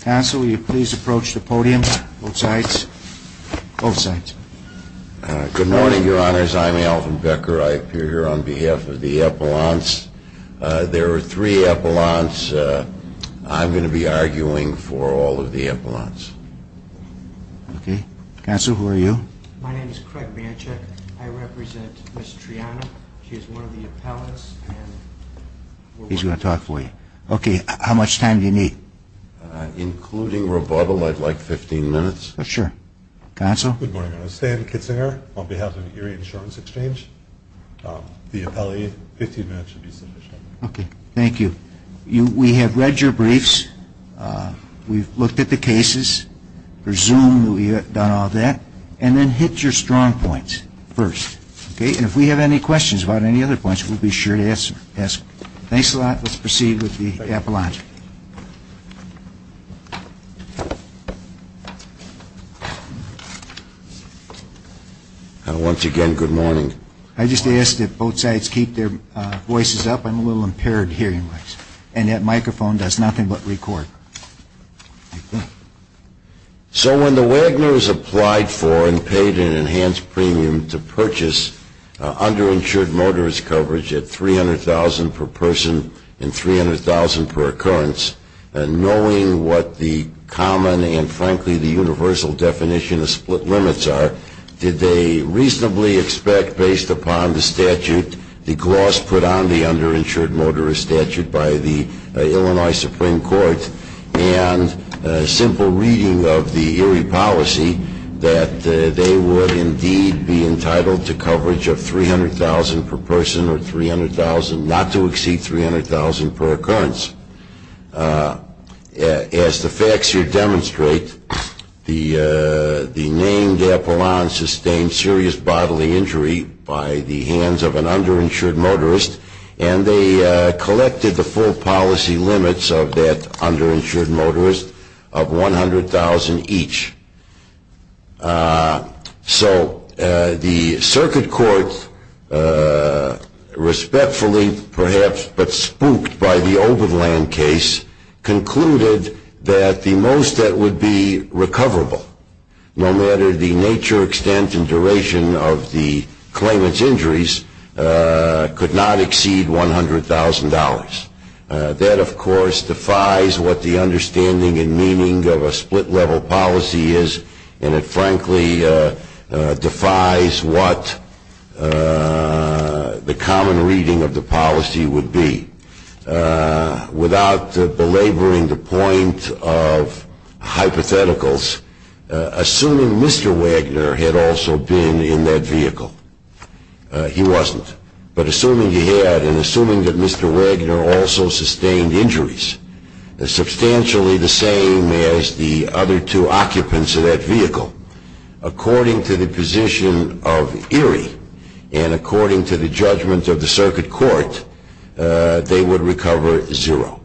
Council, will you please approach the podium, both sides, both sides. Good morning, your honors. I'm Alvin Becker. I appear here on behalf of the Epelants. There are three Epelants. I'm going to be arguing for all of the Epelants. Okay. Counsel, who are you? My name is Craig Manchek. I represent Ms. Triana. She is one of the Epelants. He's going to talk for you. Okay. How much time do you need? Including rebuttal, I'd like 15 minutes. Sure. Counsel? Good morning, your honors. Stan Kitzinger on behalf of the Erie Insurance Exchange. The Epelant, 15 minutes should be sufficient. Okay. Thank you. We have read your briefs. We've looked at the cases. Presumed that we have done all that. And then hit your strong points first. Okay. And if we have any questions about any other points, we'll be sure to ask. Thanks a lot. Let's proceed with the Epelants. Once again, good morning. I just asked if both sides keep their voices up. I'm a little impaired hearing-wise. And that microphone does nothing but record. So when the Wagners applied for and paid an enhanced premium to purchase underinsured motorist coverage at $300,000 per person and $300,000 per occurrence, knowing what the common and, frankly, the universal definition of split limits are, did they reasonably expect, based upon the statute, the gloss put on the underinsured motorist statute by the Illinois Supreme Court, and a simple reading of the Erie policy, that they would indeed be entitled to coverage of $300,000 per person or $300,000, not to exceed $300,000 per occurrence. As the facts here demonstrate, the named Epelants sustained serious bodily injury by the hands of an underinsured motorist, and they collected the full policy limits of that underinsured motorist of $100,000 each. So the circuit court, respectfully, perhaps, but spooked by the Oberland case, concluded that the most that would be recoverable, no matter the nature, extent, and duration of the claimant's injuries, could not exceed $100,000. That, of course, defies what the understanding and meaning of a split-level policy is, and it, frankly, defies what the common reading of the policy would be. Without belaboring the point of hypotheticals, assuming Mr. Wagner had also been in that vehicle, he wasn't. But assuming he had, and assuming that Mr. Wagner also sustained injuries, substantially the same as the other two occupants of that vehicle, according to the position of Erie and according to the judgment of the circuit court, they would recover zero.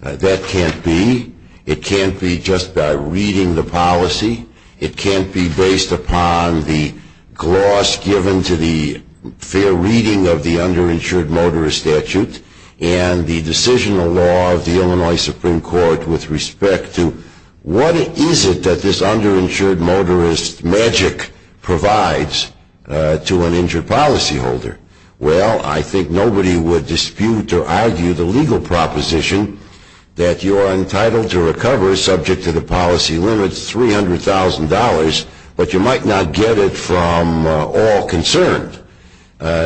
That can't be. It can't be just by reading the policy. It can't be based upon the gloss given to the fair reading of the underinsured motorist statute and the decisional law of the Illinois Supreme Court with respect to, what is it that this underinsured motorist magic provides to an injured policyholder? Well, I think nobody would dispute or argue the legal proposition that you are entitled to recover, subject to the policy limits, $300,000, but you might not get it from all concerned.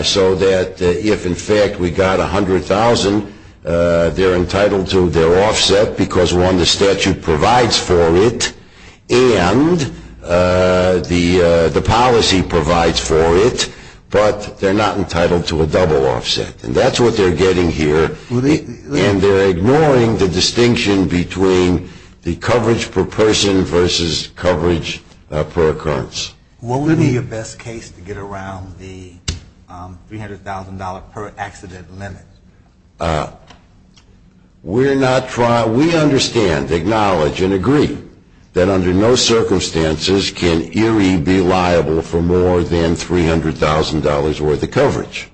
So that if, in fact, we got $100,000, they're entitled to their offset because, one, the statute provides for it and the policy provides for it, but they're not entitled to a double offset. And that's what they're getting here, and they're ignoring the distinction between the coverage per person versus coverage per occurrence. What would be your best case to get around the $300,000 per accident limit? We understand, acknowledge, and agree that under no circumstances can Erie be liable for more than $300,000 worth of coverage.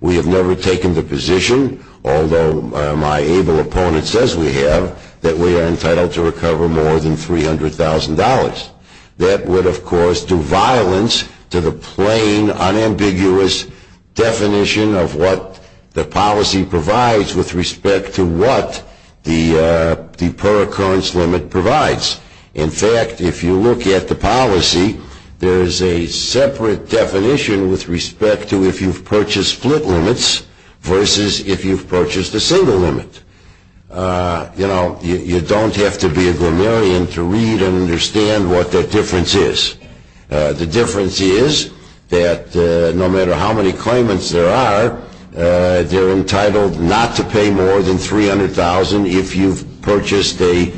We have never taken the position, although my able opponent says we have, that we are entitled to recover more than $300,000. That would, of course, do violence to the plain, unambiguous definition of what the policy provides with respect to what the per occurrence limit provides. In fact, if you look at the policy, there's a separate definition with respect to if you've purchased split limits versus if you've purchased a single limit. You know, you don't have to be a grammarian to read and understand what that difference is. The difference is that no matter how many claimants there are, they're entitled not to pay more than $300,000 if you've purchased a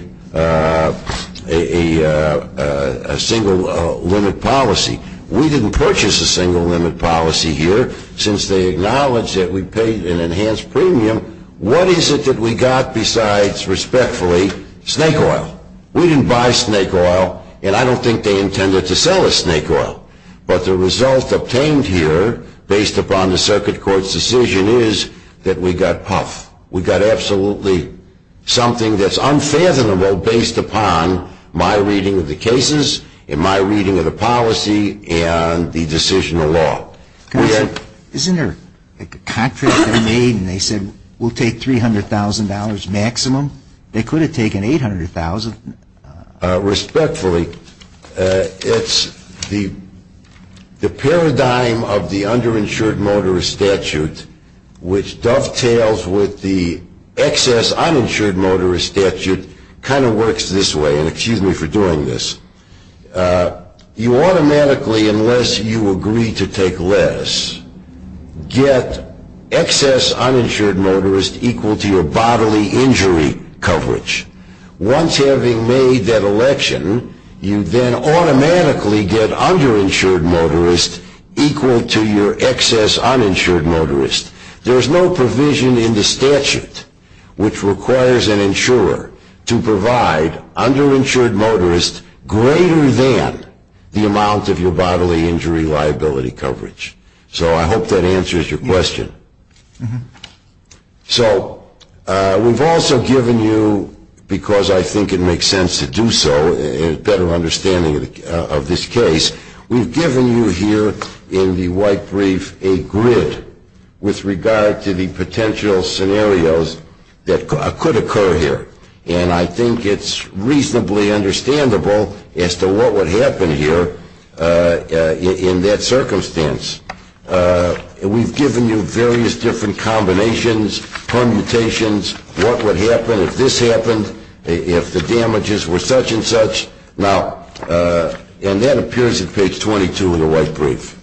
single limit policy. We didn't purchase a single limit policy here since they acknowledged that we paid an enhanced premium. What is it that we got besides, respectfully, snake oil? We didn't buy snake oil, and I don't think they intended to sell us snake oil. But the result obtained here, based upon the circuit court's decision, is that we got puff. We got absolutely something that's unfathomable based upon my reading of the cases and my reading of the policy and the decision of law. Isn't there a contract they made and they said we'll take $300,000 maximum? They could have taken $800,000. Respectfully, it's the paradigm of the underinsured motorist statute, which dovetails with the excess uninsured motorist statute, kind of works this way. And excuse me for doing this. You automatically, unless you agree to take less, get excess uninsured motorist equal to your bodily injury coverage. Once having made that election, you then automatically get underinsured motorist equal to your excess uninsured motorist. There's no provision in the statute which requires an insurer to provide underinsured motorist greater than the amount of your bodily injury liability coverage. So I hope that answers your question. So we've also given you, because I think it makes sense to do so, a better understanding of this case, we've given you here in the white brief a grid with regard to the potential scenarios that could occur here. And I think it's reasonably understandable as to what would happen here in that circumstance. We've given you various different combinations, permutations, what would happen if this happened, if the damages were such and such. Now, and that appears at page 22 of the white brief.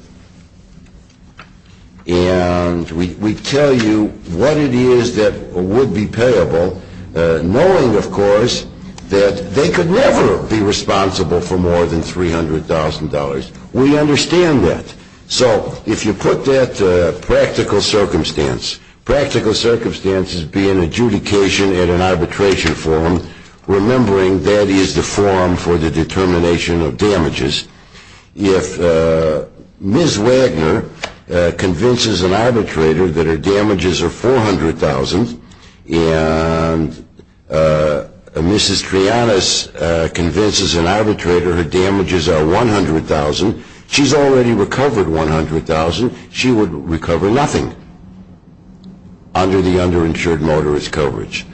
And we tell you what it is that would be payable, knowing, of course, that they could never be responsible for more than $300,000. We understand that. So if you put that to practical circumstance, practical circumstances being adjudication at an arbitration forum, remembering that is the forum for the determination of damages. If Ms. Wagner convinces an arbitrator that her damages are $400,000 and Mrs. Trianas convinces an arbitrator her damages are $100,000, she's already recovered $100,000, she would recover nothing under the underinsured motorist coverage.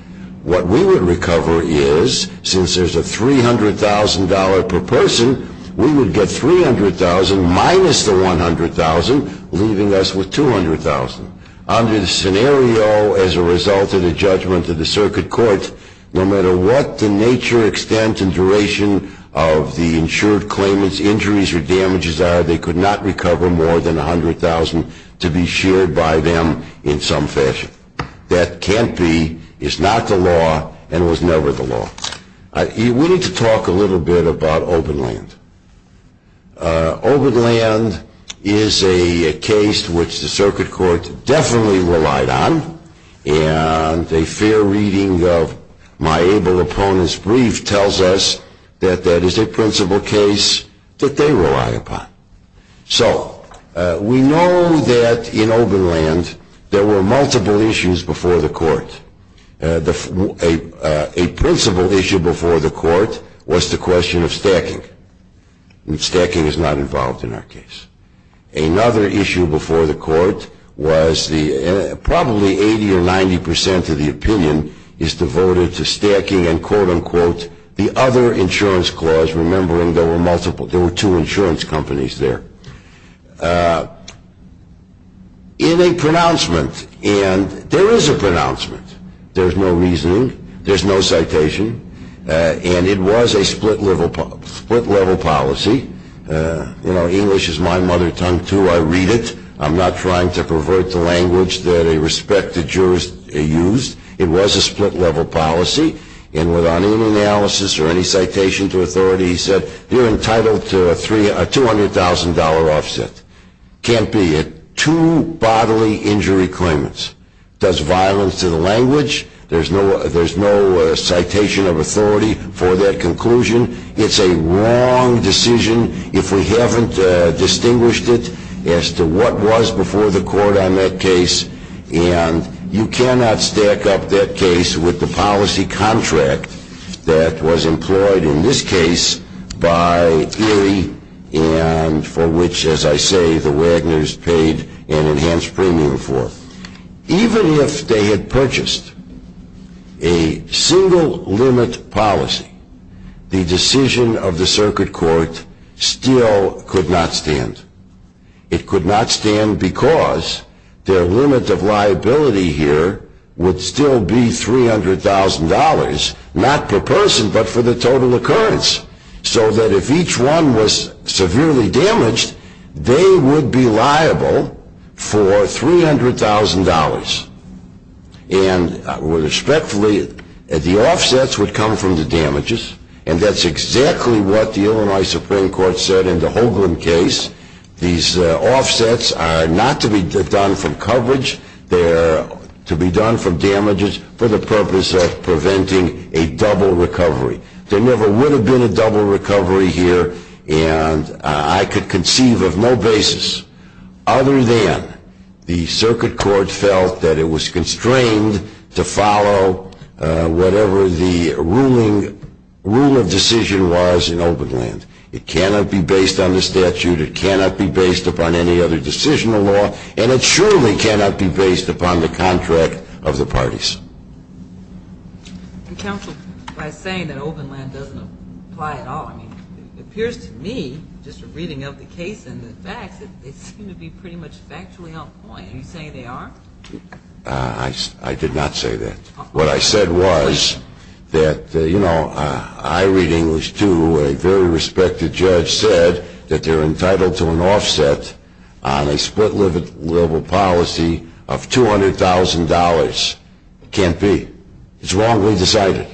What we would recover is, since there's a $300,000 per person, we would get $300,000 minus the $100,000, leaving us with $200,000. Under the scenario as a result of the judgment of the circuit court, no matter what the nature, extent, and duration of the insured claimant's injuries or damages are, they could not recover more than $100,000 to be shared by them in some fashion. That can't be, is not the law, and was never the law. We need to talk a little bit about Oberland. Oberland is a case which the circuit court definitely relied on, and a fair reading of my able opponent's brief tells us that that is a principle case that they rely upon. So we know that in Oberland there were multiple issues before the court. A principle issue before the court was the question of stacking. Stacking is not involved in our case. Another issue before the court was probably 80 or 90 percent of the opinion is devoted to stacking and quote, unquote, the other insurance clause, remembering there were two insurance companies there. In a pronouncement, and there is a pronouncement, there's no reasoning, there's no citation, and it was a split-level policy. You know, English is my mother tongue, too. I read it. I'm not trying to pervert the language that a respected jurist used. It was a split-level policy, and without any analysis or any citation to authority, he said you're entitled to a $200,000 offset. Can't be it. Two bodily injury claimants. Does violence to the language. There's no citation of authority for that conclusion. It's a wrong decision if we haven't distinguished it as to what was before the court on that case, and you cannot stack up that case with the policy contract that was employed in this case by Erie and for which, as I say, the Wagners paid an enhanced premium for. Even if they had purchased a single limit policy, the decision of the circuit court still could not stand. It could not stand because their limit of liability here would still be $300,000, not per person but for the total occurrence, so that if each one was severely damaged, they would be liable for $300,000. And respectfully, the offsets would come from the damages, and that's exactly what the Illinois Supreme Court said in the Holguin case. These offsets are not to be done from coverage. They're to be done from damages for the purpose of preventing a double recovery. There never would have been a double recovery here, and I could conceive of no basis other than the circuit court felt that it was constrained to follow whatever the rule of decision was in Openland. It cannot be based on the statute. It cannot be based upon any other decisional law, and it surely cannot be based upon the contract of the parties. Counsel, by saying that Openland doesn't apply at all, I mean, it appears to me, just from reading up the case and the facts, that they seem to be pretty much factually on point. You say they are? I did not say that. What I said was that, you know, I read English, too, and a very respected judge said that they're entitled to an offset on a split-level policy of $200,000. It can't be. It's wrongly decided.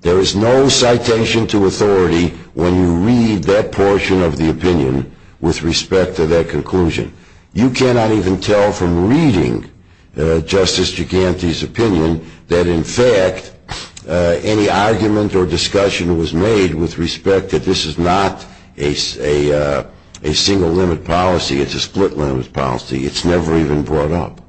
There is no citation to authority when you read that portion of the opinion with respect to that conclusion. You cannot even tell from reading Justice Giganti's opinion that, in fact, any argument or discussion was made with respect that this is not a single-limit policy. It's a split-limit policy. It's never even brought up.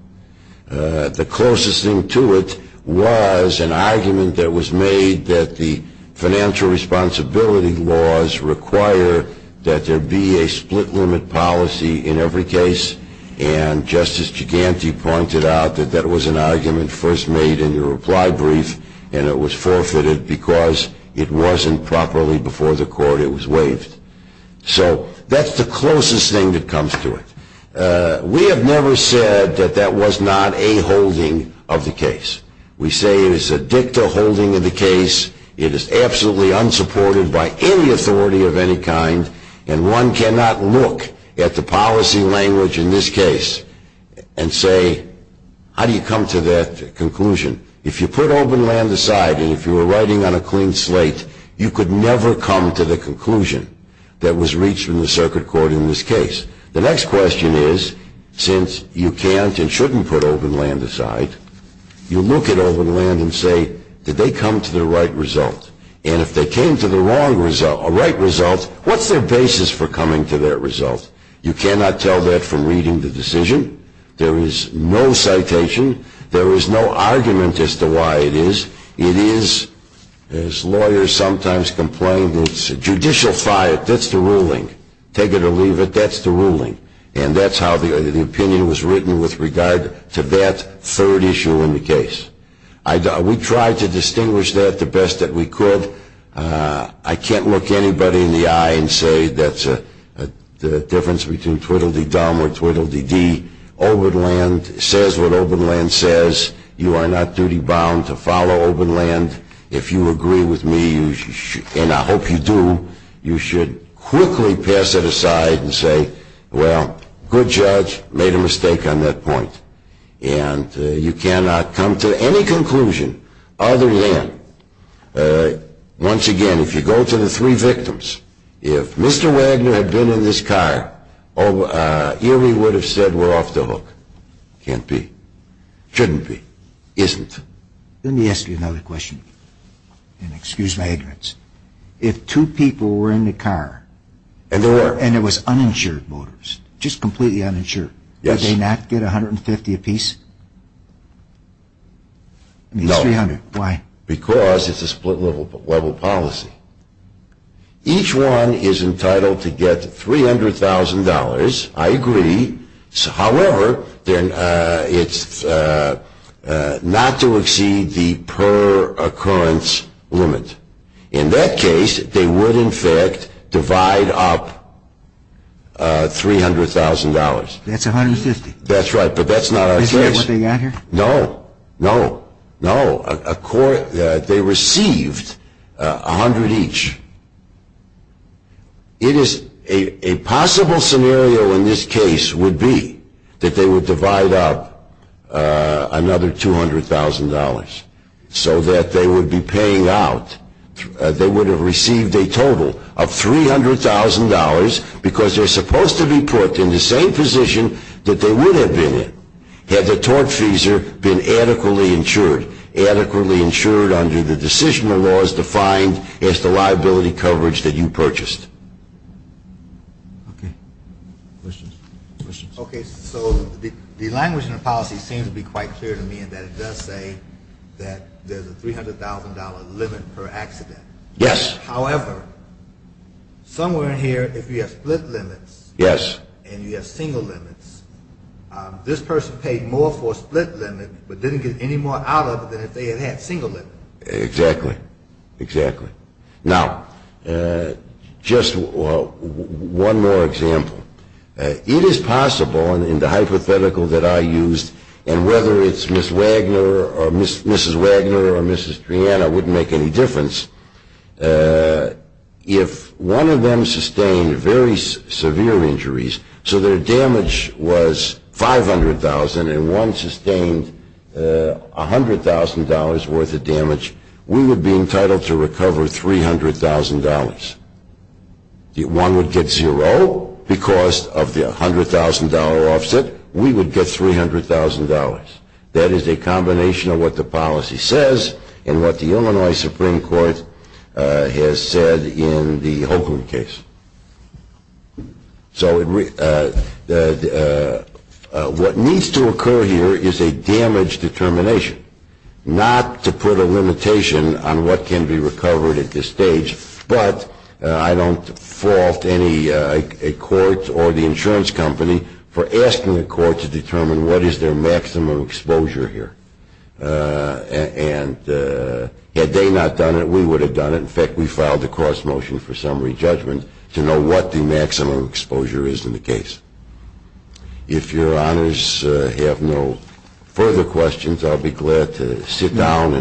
The closest thing to it was an argument that was made that the financial responsibility laws require that there be a split-limit policy in every case, and Justice Giganti pointed out that that was an argument first made in the reply brief, and it was forfeited because it wasn't properly before the court it was waived. So that's the closest thing that comes to it. We have never said that that was not a holding of the case. We say it is a dicta holding of the case. It is absolutely unsupported by any authority of any kind, and one cannot look at the policy language in this case and say, how do you come to that conclusion? If you put open land aside and if you were writing on a clean slate, you could never come to the conclusion that was reached in the circuit court in this case. The next question is, since you can't and shouldn't put open land aside, you look at open land and say, did they come to the right result? And if they came to the right result, what's their basis for coming to that result? You cannot tell that from reading the decision. There is no citation. There is no argument as to why it is. It is, as lawyers sometimes complain, it's a judicial fiat. That's the ruling. Take it or leave it, that's the ruling. And that's how the opinion was written with regard to that third issue in the case. We tried to distinguish that the best that we could. I can't look anybody in the eye and say that's a difference between twiddle-dee-dum or twiddle-dee-dee. Open land says what open land says. You are not duty-bound to follow open land. If you agree with me, and I hope you do, you should quickly pass it aside and say, well, good judge, made a mistake on that point. And you cannot come to any conclusion other than, once again, if you go to the three victims, if Mr. Wagner had been in this car, Erie would have said we're off the hook. Can't be. Shouldn't be. Isn't. Let me ask you another question. And excuse my ignorance. If two people were in the car and it was uninsured voters, just completely uninsured, would they not get $150 apiece? No. Why? Because it's a split-level policy. Each one is entitled to get $300,000. I agree. However, it's not to exceed the per-occurrence limit. In that case, they would, in fact, divide up $300,000. That's $150,000. That's right. But that's not our case. Is that what they got here? No. No. No. They received $100,000 each. A possible scenario in this case would be that they would divide up another $200,000 so that they would be paying out, they would have received a total of $300,000 because they're supposed to be put in the same position that they would have been in had the tortfeasor been adequately insured, under the decisional laws defined as the liability coverage that you purchased. Okay. Questions? Questions? Okay. So the language in the policy seems to be quite clear to me in that it does say that there's a $300,000 limit per accident. Yes. However, somewhere in here, if you have split limits and you have single limits, this person paid more for a split limit but didn't get any more out of it than if they had had single limits. Exactly. Exactly. Now, just one more example. It is possible in the hypothetical that I used, and whether it's Ms. Wagner or Mrs. Triana wouldn't make any difference, if one of them sustained very severe injuries, so their damage was $500,000 and one sustained $100,000 worth of damage, we would be entitled to recover $300,000. One would get zero because of the $100,000 offset. We would get $300,000. That is a combination of what the policy says and what the Illinois Supreme Court has said in the Holcomb case. So what needs to occur here is a damage determination, not to put a limitation on what can be recovered at this stage, but I don't fault any court or the insurance company for asking the court to determine what is their maximum exposure here. And had they not done it, we would have done it. In fact, we filed a cross motion for summary judgment to know what the maximum exposure is in the case. If Your Honors have no further questions, I'll be glad to sit down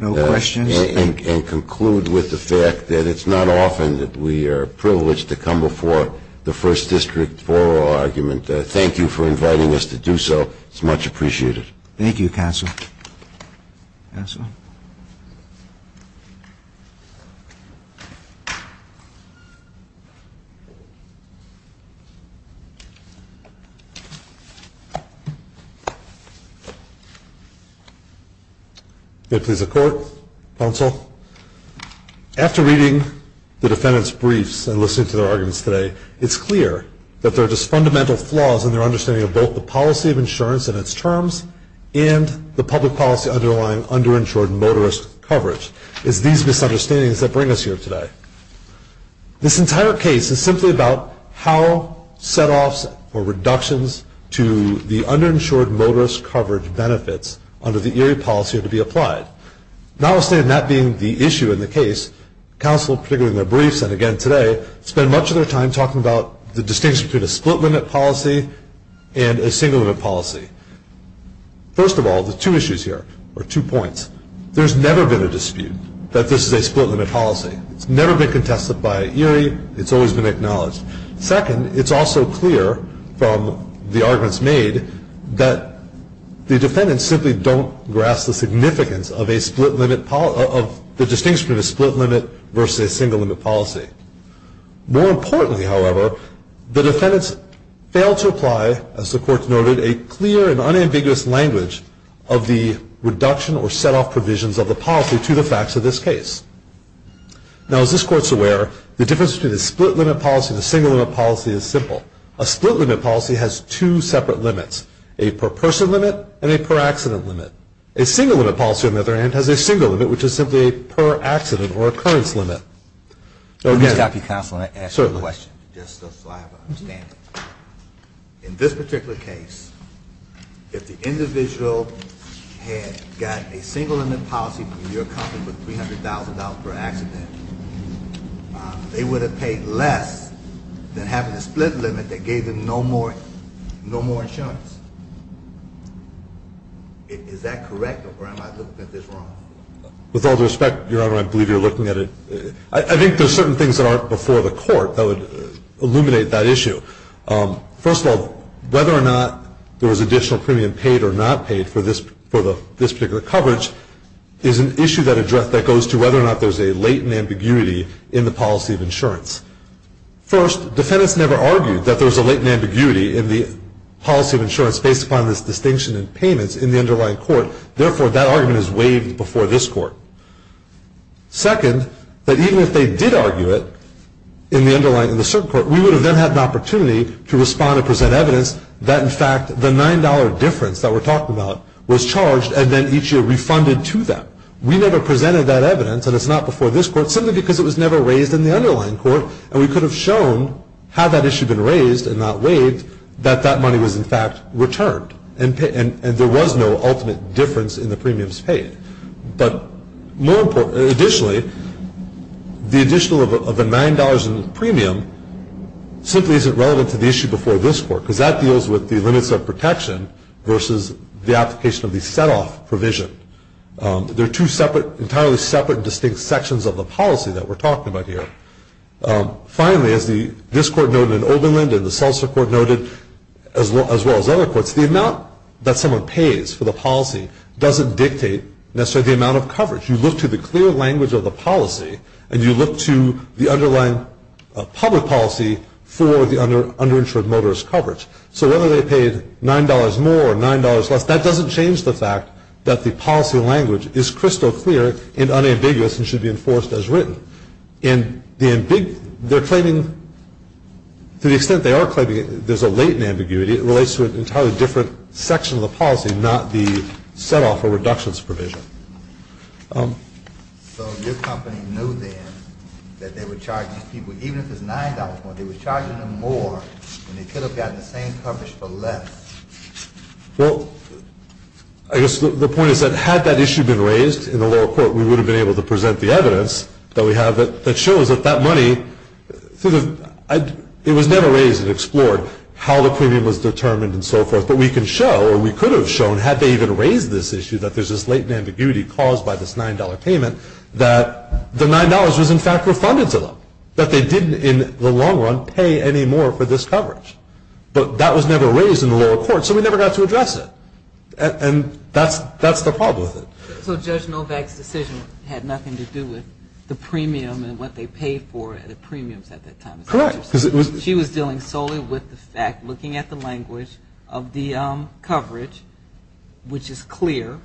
and conclude with the fact that it's not often that we are privileged to come before the First District for our argument. Thank you for inviting us to do so. It's much appreciated. Thank you, Counsel. Counsel. May it please the Court, Counsel. After reading the defendant's briefs and listening to their arguments today, it's clear that there are just fundamental flaws in their understanding of both the policy of insurance and its terms and the public policy underlying underinsured motorist coverage. It's these misunderstandings that bring us here today. This entire case is simply about how setoffs or reductions to the underinsured motorist coverage benefits under the ERA policy are to be applied. Notwithstanding that being the issue in the case, Counsel, particularly in their briefs and again today, spend much of their time talking about the distinction between a split-limit policy and a single-limit policy. First of all, the two issues here are two points. There's never been a dispute that this is a split-limit policy. It's never been contested by ERI. It's always been acknowledged. Second, it's also clear from the arguments made that the defendants simply don't grasp the significance of a split-limit, of the distinction between a split-limit versus a single-limit policy. More importantly, however, the defendants fail to apply, as the court noted, a clear and unambiguous language of the reduction or setoff provisions of the policy to the facts of this case. Now, as this court's aware, the difference between a split-limit policy and a single-limit policy is simple. A split-limit policy has two separate limits, a per-person limit and a per-accident limit. A single-limit policy, on the other hand, has a single limit, which is simply a per-accident or occurrence limit. Let me stop you, counsel, and ask you a question, just so I have an understanding. In this particular case, if the individual had got a single-limit policy from your company for $300,000 per accident, they would have paid less than having a split limit that gave them no more insurance. Is that correct, or am I looking at this wrong? With all due respect, Your Honor, I believe you're looking at it. I think there are certain things that aren't before the court that would illuminate that issue. First of all, whether or not there was additional premium paid or not paid for this particular coverage is an issue that goes to whether or not there's a latent ambiguity in the policy of insurance. First, defendants never argued that there was a latent ambiguity in the policy of insurance based upon this distinction in payments in the underlying court. Therefore, that argument is waived before this court. Second, that even if they did argue it in the underlying, in the certain court, we would have then had an opportunity to respond and present evidence that, in fact, the $9 difference that we're talking about was charged and then each year refunded to them. We never presented that evidence, and it's not before this court, simply because it was never raised in the underlying court, and we could have shown, had that issue been raised and not waived, that that money was, in fact, returned and there was no ultimate difference in the premiums paid. But additionally, the additional of the $9 in premium simply isn't relevant to the issue before this court because that deals with the limits of protection versus the application of the set-off provision. They're two separate, entirely separate, distinct sections of the policy that we're talking about here. Finally, as this court noted and Oberlin and the Seltzer court noted as well as other courts, the amount that someone pays for the policy doesn't dictate necessarily the amount of coverage. You look to the clear language of the policy, and you look to the underlying public policy for the underinsured motorist coverage. So whether they paid $9 more or $9 less, that doesn't change the fact that the policy language is crystal clear and unambiguous and should be enforced as written. And to the extent they are claiming there's a latent ambiguity, it relates to an entirely different section of the policy, not the set-off or reductions provision. So your company knew then that they were charging people, even if it's $9 more, they were charging them more, and they could have gotten the same coverage for less. Well, I guess the point is that had that issue been raised in the lower court, we would have been able to present the evidence that we have that shows that that money, it was never raised and explored how the premium was determined and so forth, but we can show or we could have shown, had they even raised this issue, that there's this latent ambiguity caused by this $9 payment, that the $9 was in fact refunded to them, that they didn't in the long run pay any more for this coverage. But that was never raised in the lower court, so we never got to address it. And that's the problem with it. So Judge Novak's decision had nothing to do with the premium and what they paid for the premiums at that time. Correct. She was dealing solely with the fact, looking at the language of the coverage, which is clear,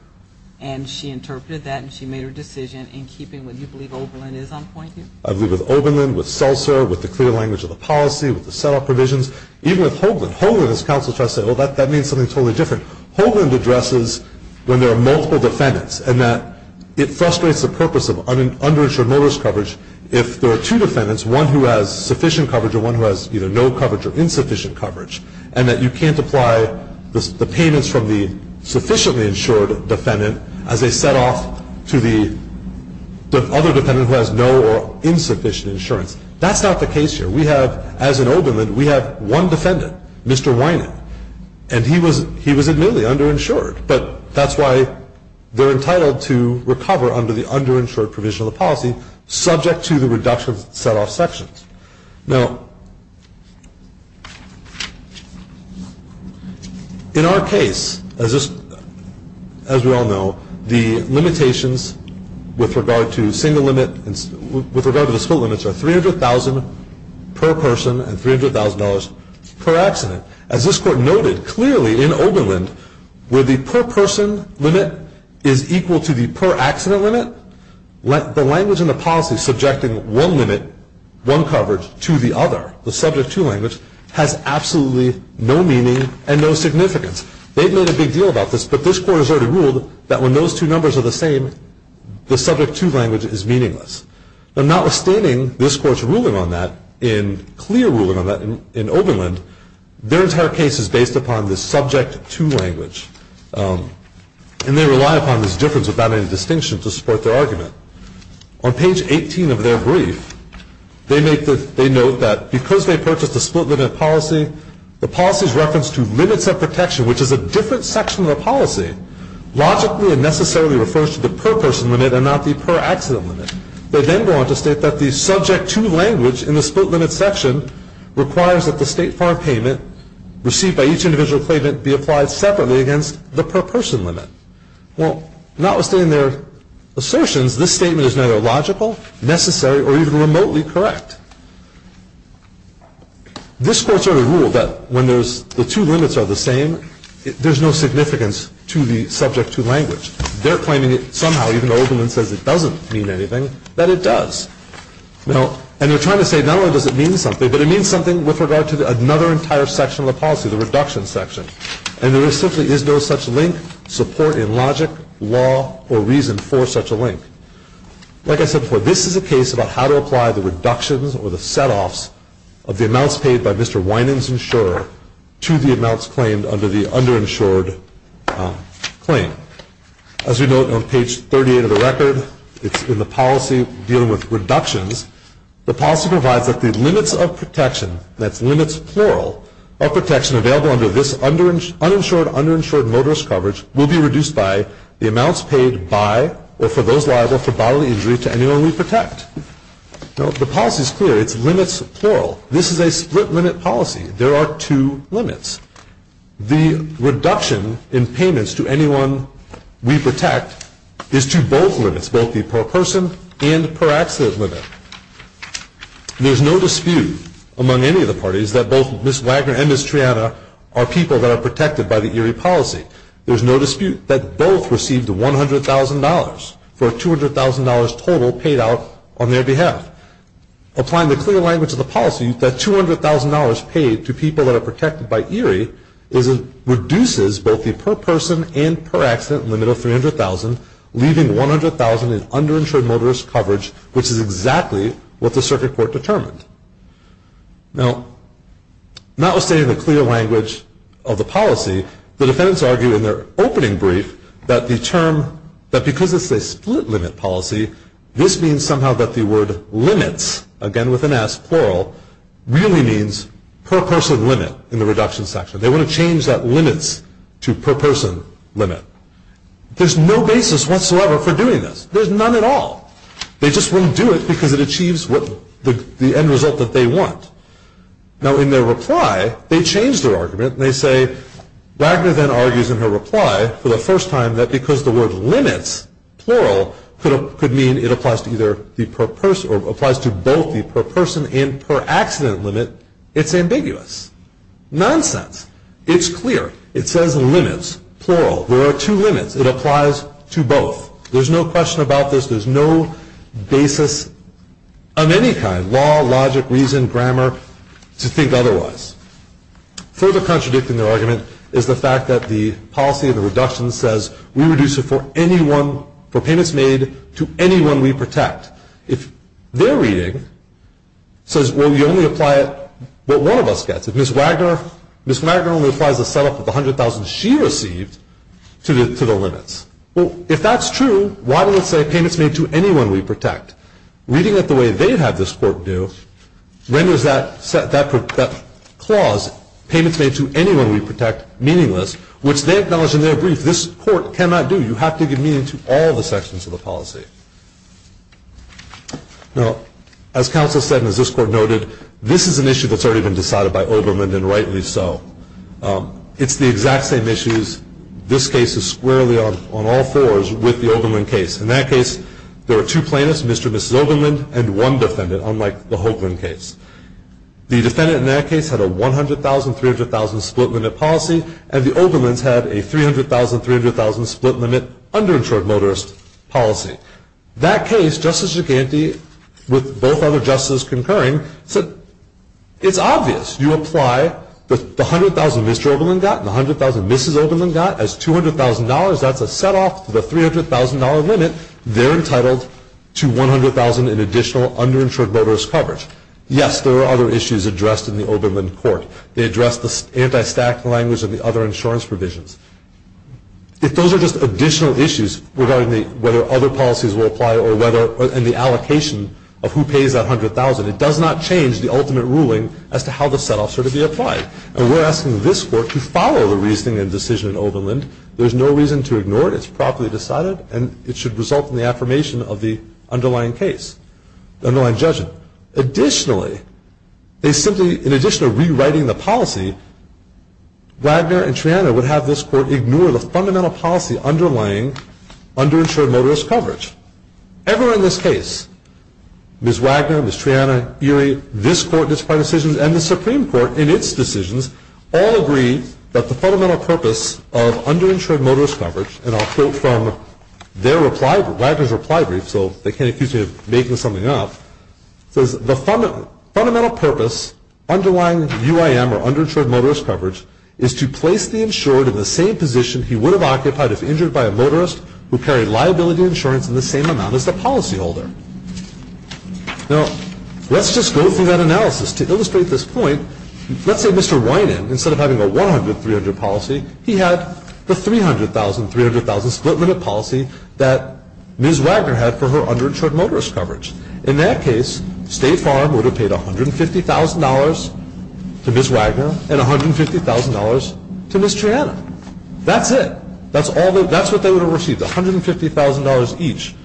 and she interpreted that, and she made her decision in keeping with what you believe Oberlin is on point here? I believe with Oberlin, with Seltzer, with the clear language of the policy, with the set-off provisions, even with Hoagland. Hoagland, as counsel tries to say, well, that means something totally different. Hoagland addresses when there are multiple defendants and that it frustrates the purpose of underinsured motorist coverage if there are two defendants, one who has sufficient coverage and one who has either no coverage or insufficient coverage, and that you can't apply the payments from the sufficiently insured defendant as a set-off to the other defendant who has no or insufficient insurance. That's not the case here. We have, as in Oberlin, we have one defendant, Mr. Winant, and he was admittedly underinsured, but that's why they're entitled to recover under the underinsured provision of the policy, subject to the reduction of set-off sections. Now, in our case, as we all know, the limitations with regard to single limit and with regard to the split limits are $300,000 per person and $300,000 per accident. As this Court noted clearly in Oberlin, where the per-person limit is equal to the per-accident limit, the language in the policy subjecting one limit, one coverage, to the other, the subject-to language, has absolutely no meaning and no significance. They've made a big deal about this, but this Court has already ruled that when those two numbers are the same, the subject-to language is meaningless. Notwithstanding this Court's ruling on that, in clear ruling on that in Oberlin, their entire case is based upon the subject-to language, and they rely upon this difference without any distinction to support their argument. On page 18 of their brief, they note that because they purchased a split-limit policy, the policy's reference to limits of protection, which is a different section of the policy, logically and necessarily refers to the per-person limit and not the per-accident limit. They then go on to state that the subject-to language in the split-limit section requires that the state farm payment received by each individual claimant be applied separately against the per-person limit. Well, notwithstanding their assertions, this statement is neither logical, necessary, or even remotely correct. This Court's already ruled that when the two limits are the same, there's no significance to the subject-to language. They're claiming it somehow, even though Oberlin says it doesn't mean anything, that it does. And they're trying to say not only does it mean something, but it means something with regard to another entire section of the policy, the reduction section. And there simply is no such link, support in logic, law, or reason for such a link. Like I said before, this is a case about how to apply the reductions or the set-offs of the amounts paid by Mr. Winan's insurer to the amounts claimed under the under-insured claim. As we note on page 38 of the record, it's in the policy dealing with reductions. The policy provides that the limits of protection, that's limits plural, of protection available under this uninsured, under-insured motorist coverage will be reduced by the amounts paid by or for those liable for bodily injury to anyone we protect. The policy is clear. It's limits plural. This is a split-limit policy. There are two limits. The reduction in payments to anyone we protect is to both limits, both the per-person and per-accident limit. There's no dispute among any of the parties that both Ms. Wagner and Ms. Triana are people that are protected by the ERIE policy. There's no dispute that both received $100,000 for a $200,000 total paid out on their behalf. Applying the clear language of the policy, that $200,000 paid to people that are protected by ERIE reduces both the per-person and per-accident limit of $300,000, leaving $100,000 in under-insured motorist coverage, which is exactly what the circuit court determined. Now, notwithstanding the clear language of the policy, the defendants argued in their opening brief that the term, that because it's a split-limit policy, this means somehow that the word limits, again with an S, plural, really means per-person limit in the reduction section. They want to change that limits to per-person limit. There's no basis whatsoever for doing this. There's none at all. They just won't do it because it achieves the end result that they want. Now, in their reply, they change their argument and they say, Wagner then argues in her reply for the first time that because the word limits, plural, could mean it applies to both the per-person and per-accident limit, it's ambiguous. Nonsense. It's clear. It says limits, plural. There are two limits. It applies to both. There's no question about this. There's no basis of any kind, law, logic, reason, grammar, to think otherwise. Further contradicting their argument is the fact that the policy of the reduction says, we reduce it for anyone, for payments made to anyone we protect. If their reading says, well, you only apply it what one of us gets. If Ms. Wagner only applies the setup of the $100,000 she received to the limits. Well, if that's true, why does it say payments made to anyone we protect? Reading it the way they have this court do renders that clause, payments made to anyone we protect, meaningless, which they acknowledge in their brief, this court cannot do. You have to give meaning to all the sections of the policy. Now, as counsel said and as this court noted, this is an issue that's already been decided by Oberlin and rightly so. It's the exact same issues. This case is squarely on all fours with the Oberlin case. In that case, there were two plaintiffs, Mr. and Mrs. Oberlin, and one defendant, unlike the Hoagland case. The defendant in that case had a $100,000, $300,000 split limit policy, and the Oberlins had a $300,000, $300,000 split limit underinsured motorist policy. That case, Justice Giganti, with both other justices concurring, said it's obvious. You apply the $100,000 Mr. Oberlin got and the $100,000 Mrs. Oberlin got as $200,000. That's a setoff to the $300,000 limit. They're entitled to $100,000 in additional underinsured motorist coverage. Yes, there are other issues addressed in the Oberlin court. They address the anti-stack language and the other insurance provisions. If those are just additional issues regarding whether other policies will apply and the allocation of who pays that $100,000, it does not change the ultimate ruling as to how the setoffs are to be applied. And we're asking this court to follow the reasoning and decision in Oberlin. There's no reason to ignore it. It's properly decided, and it should result in the affirmation of the underlying case, the underlying judgment. Additionally, in addition to rewriting the policy, Wagner and Triana would have this court ignore the fundamental policy underlying underinsured motorist coverage. Ever in this case, Ms. Wagner, Ms. Triana, Erie, this court in its prior decisions, and the Supreme Court in its decisions all agree that the fundamental purpose of underinsured motorist coverage, and I'll quote from Wagner's reply brief, so they can't accuse me of making something up, says the fundamental purpose underlying UIM, or underinsured motorist coverage, is to place the insured in the same position he would have occupied if injured by a motorist who carried liability insurance in the same amount as the policyholder. Now, let's just go through that analysis. To illustrate this point, let's say Mr. Winan, instead of having a 100-300 policy, he had the 300,000-300,000 split limit policy that Ms. Wagner had for her underinsured motorist coverage. In that case, State Farm would have paid $150,000 to Ms. Wagner and $150,000 to Ms. Triana. That's it. That's what they would have received, $150,000 each,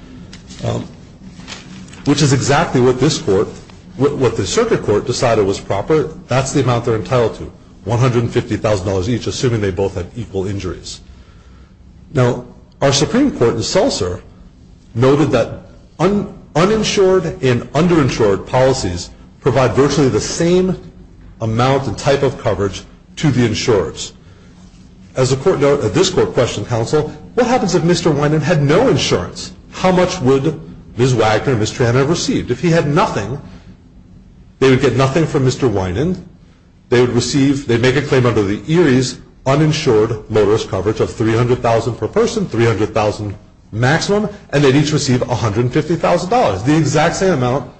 which is exactly what this court, what the circuit court decided was proper. That's the amount they're entitled to, $150,000 each, assuming they both had equal injuries. Now, our Supreme Court in Seltzer noted that uninsured and underinsured policies provide virtually the same amount and type of coverage to the insurers. As the court noted at this court question council, what happens if Mr. Winan had no insurance? How much would Ms. Wagner and Ms. Triana have received? If he had nothing, they would get nothing from Mr. Winan. They would make a claim under the Erie's uninsured motorist coverage of $300,000 per person, $300,000 maximum, and they'd each receive $150,000, the exact same amount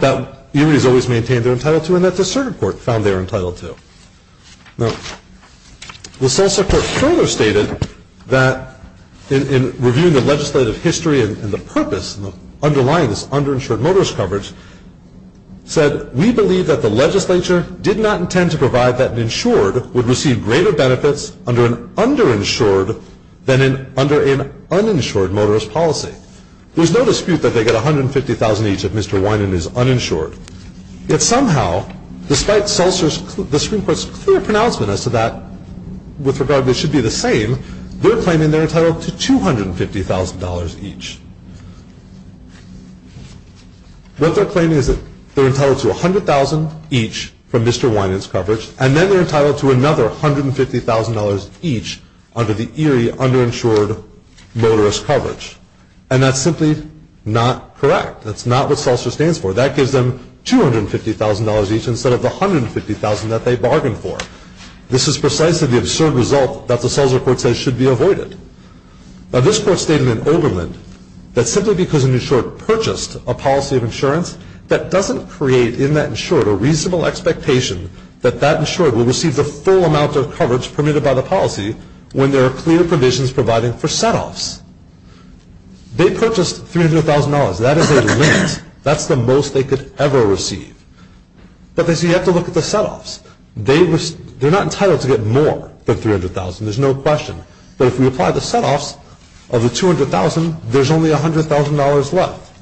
that Erie's always maintained they're entitled to and that the circuit court found they were entitled to. Now, the Seltzer court further stated that in reviewing the legislative history and the purpose underlying this underinsured motorist coverage, said, we believe that the legislature did not intend to provide that an insured would receive greater benefits under an underinsured than under an uninsured motorist policy. There's no dispute that they get $150,000 each if Mr. Winan is uninsured. Yet somehow, despite Seltzer's, the Supreme Court's clear pronouncement as to that with regard they should be the same, they're claiming they're entitled to $250,000 each. What they're claiming is that they're entitled to $100,000 each from Mr. Winan's coverage, and then they're entitled to another $150,000 each under the Erie underinsured motorist coverage. And that's simply not correct. That's not what Seltzer stands for. That gives them $250,000 each instead of the $150,000 that they bargained for. This is precisely the absurd result that the Seltzer court says should be avoided. Now, this court stated in Oberlin that simply because an insured purchased a policy of insurance, that doesn't create in that insured a reasonable expectation that that insured will receive the full amount of coverage permitted by the policy when there are clear provisions providing for setoffs. They purchased $300,000. That is a limit. That's the most they could ever receive. But they say you have to look at the setoffs. They're not entitled to get more than $300,000. There's no question. But if we apply the setoffs of the $200,000, there's only $100,000 left.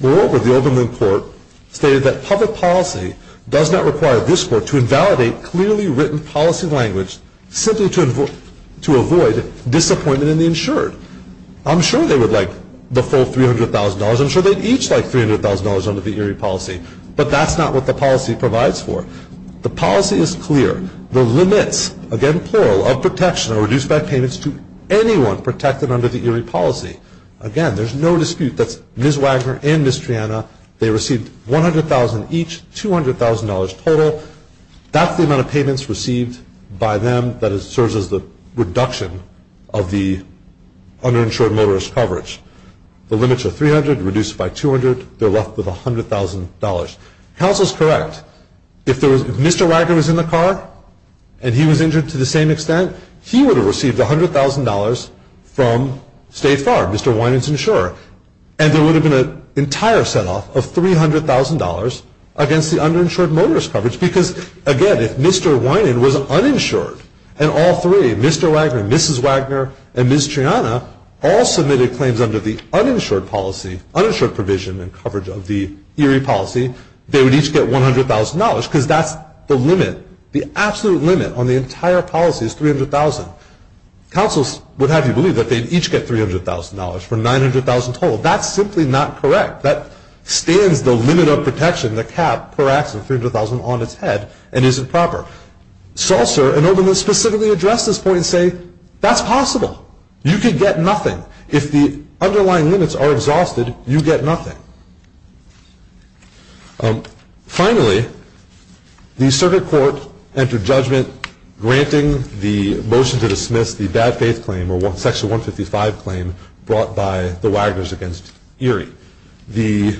Moreover, the Oberlin court stated that public policy does not require this court to invalidate clearly written policy language simply to avoid disappointment in the insured. I'm sure they would like the full $300,000. I'm sure they'd each like $300,000 under the Erie policy. But that's not what the policy provides for. The policy is clear. The limits, again plural, of protection are reduced by payments to anyone protected under the Erie policy. Again, there's no dispute. That's Ms. Wagner and Ms. Triana. They received $100,000 each, $200,000 total. That's the amount of payments received by them that serves as the reduction of the underinsured motorist coverage. The limits are $300,000 reduced by $200,000. They're left with $100,000. Counsel is correct. If Mr. Wagner was in the car and he was injured to the same extent, he would have received $100,000 from State Farm, Mr. Winan's insurer. And there would have been an entire set-off of $300,000 against the underinsured motorist coverage. Because, again, if Mr. Winan was uninsured and all three, Mr. Wagner, Mrs. Wagner, and Ms. Triana, all submitted claims under the uninsured policy, uninsured provision and coverage of the Erie policy, they would each get $100,000 because that's the limit. The absolute limit on the entire policy is $300,000. Counsel would have you believe that they'd each get $300,000 for $900,000 total. That's simply not correct. That stands the limit of protection, the cap, per act of $300,000 on its head and isn't proper. Seltzer and Oberlin specifically address this point and say, that's possible. You could get nothing. If the underlying limits are exhausted, you get nothing. Finally, the circuit court entered judgment granting the motion to dismiss the bad faith claim or Section 155 claim brought by the Wagners against Erie. The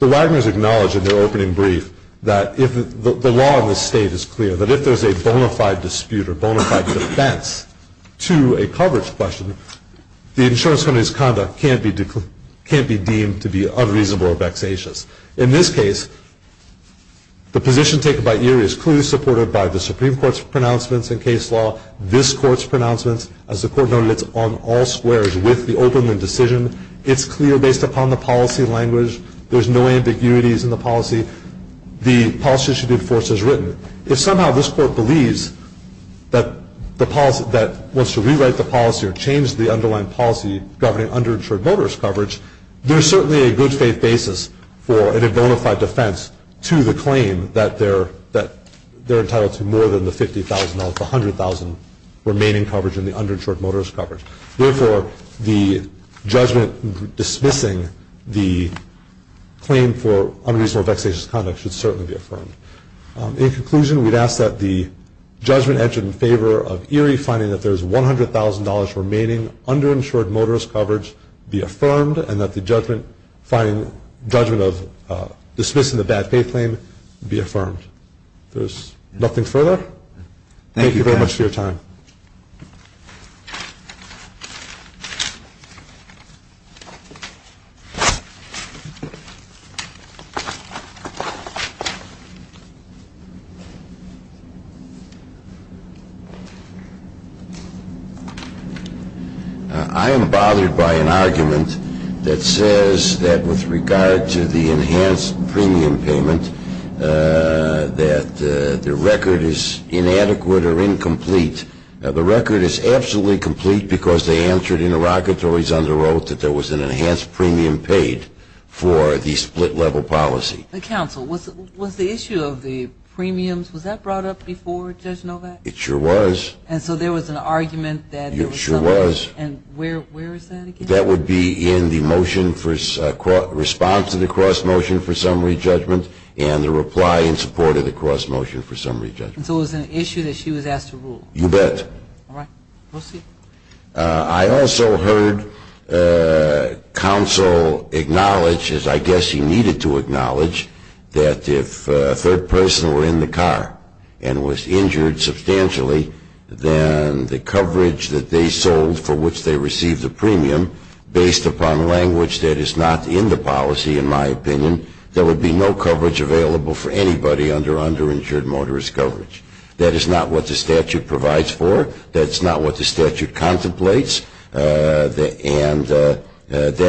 Wagners acknowledged in their opening brief that the law in this state is clear, that if there's a bona fide dispute or bona fide defense to a coverage question, the insurance company's conduct can't be deemed to be unreasonable or vexatious. In this case, the position taken by Erie is clearly supported by the Supreme Court's pronouncements in case law, this Court's pronouncements. As the Court noted, it's on all squares with the opening decision. It's clear based upon the policy language. There's no ambiguities in the policy. The policy should be enforced as written. If somehow this Court believes that the policy that wants to rewrite the policy or change the underlying policy governing underinsured motorist coverage, there's certainly a good faith basis for a bona fide defense to the claim that they're entitled to more than the $50,000, the $100,000 remaining coverage in the underinsured motorist coverage. Therefore, the judgment dismissing the claim for unreasonable or vexatious conduct should certainly be affirmed. In conclusion, we'd ask that the judgment entered in favor of Erie finding that there's $100,000 remaining underinsured motorist coverage be affirmed and that the judgment of dismissing the bad faith claim be affirmed. If there's nothing further, thank you very much for your time. I am bothered by an argument that says that with regard to the enhanced premium payment that the record is inadequate or incomplete. The record is absolutely complete because they answered in the rockatories under oath that there was an enhanced premium paid for the split-level policy. Counsel, was the issue of the premiums, was that brought up before Judge Novak? It sure was. And so there was an argument that there was something. It sure was. And where is that again? That would be in the motion for response to the cross-motion for summary judgment and the reply in support of the cross-motion for summary judgment. So it was an issue that she was asked to rule. You bet. All right. We'll see. I also heard counsel acknowledge, as I guess he needed to acknowledge, that if a third person were in the car and was injured substantially, then the coverage that they sold for which they received the premium, based upon language that is not in the policy, in my opinion, there would be no coverage available for anybody under underinsured motorist coverage. That is not what the statute provides for. That is not what the statute contemplates. And that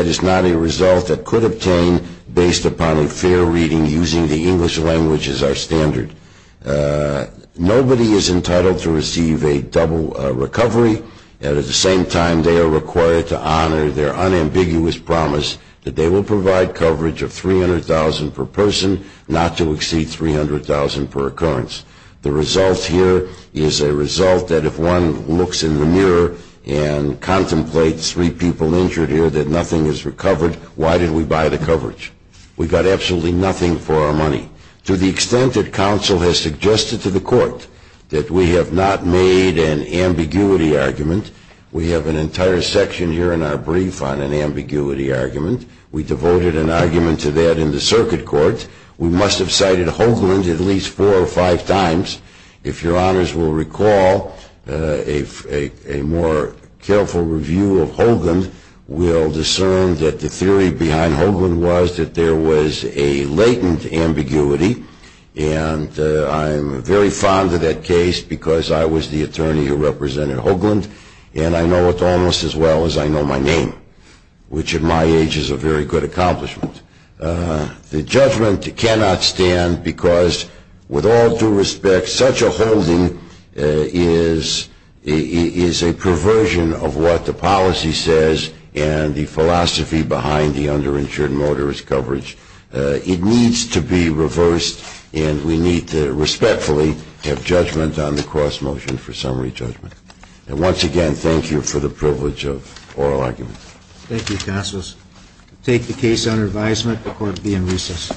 is not a result that could obtain based upon a fair reading using the English language as our standard. Nobody is entitled to receive a double recovery. And at the same time, they are required to honor their unambiguous promise that they will provide coverage of $300,000 per person, not to exceed $300,000 per occurrence. The result here is a result that if one looks in the mirror and contemplates three people injured here, that nothing is recovered, why did we buy the coverage? We got absolutely nothing for our money. To the extent that counsel has suggested to the court that we have not made an ambiguity argument, we have an entire section here in our brief on an ambiguity argument. We devoted an argument to that in the circuit court. We must have cited Hoagland at least four or five times. If your honors will recall, a more careful review of Hoagland will discern that the theory behind Hoagland was that there was a latent ambiguity. And I'm very fond of that case because I was the attorney who represented Hoagland, and I know it almost as well as I know my name, which in my age is a very good accomplishment. The judgment cannot stand because, with all due respect, such a holding is a perversion of what the policy says and the philosophy behind the underinsured motorist coverage. It needs to be reversed, and we need to respectfully have judgment on the cross motion for summary judgment. And once again, thank you for the privilege of oral argument. Thank you, counselors. I take the case under advisement. The court will be in recess.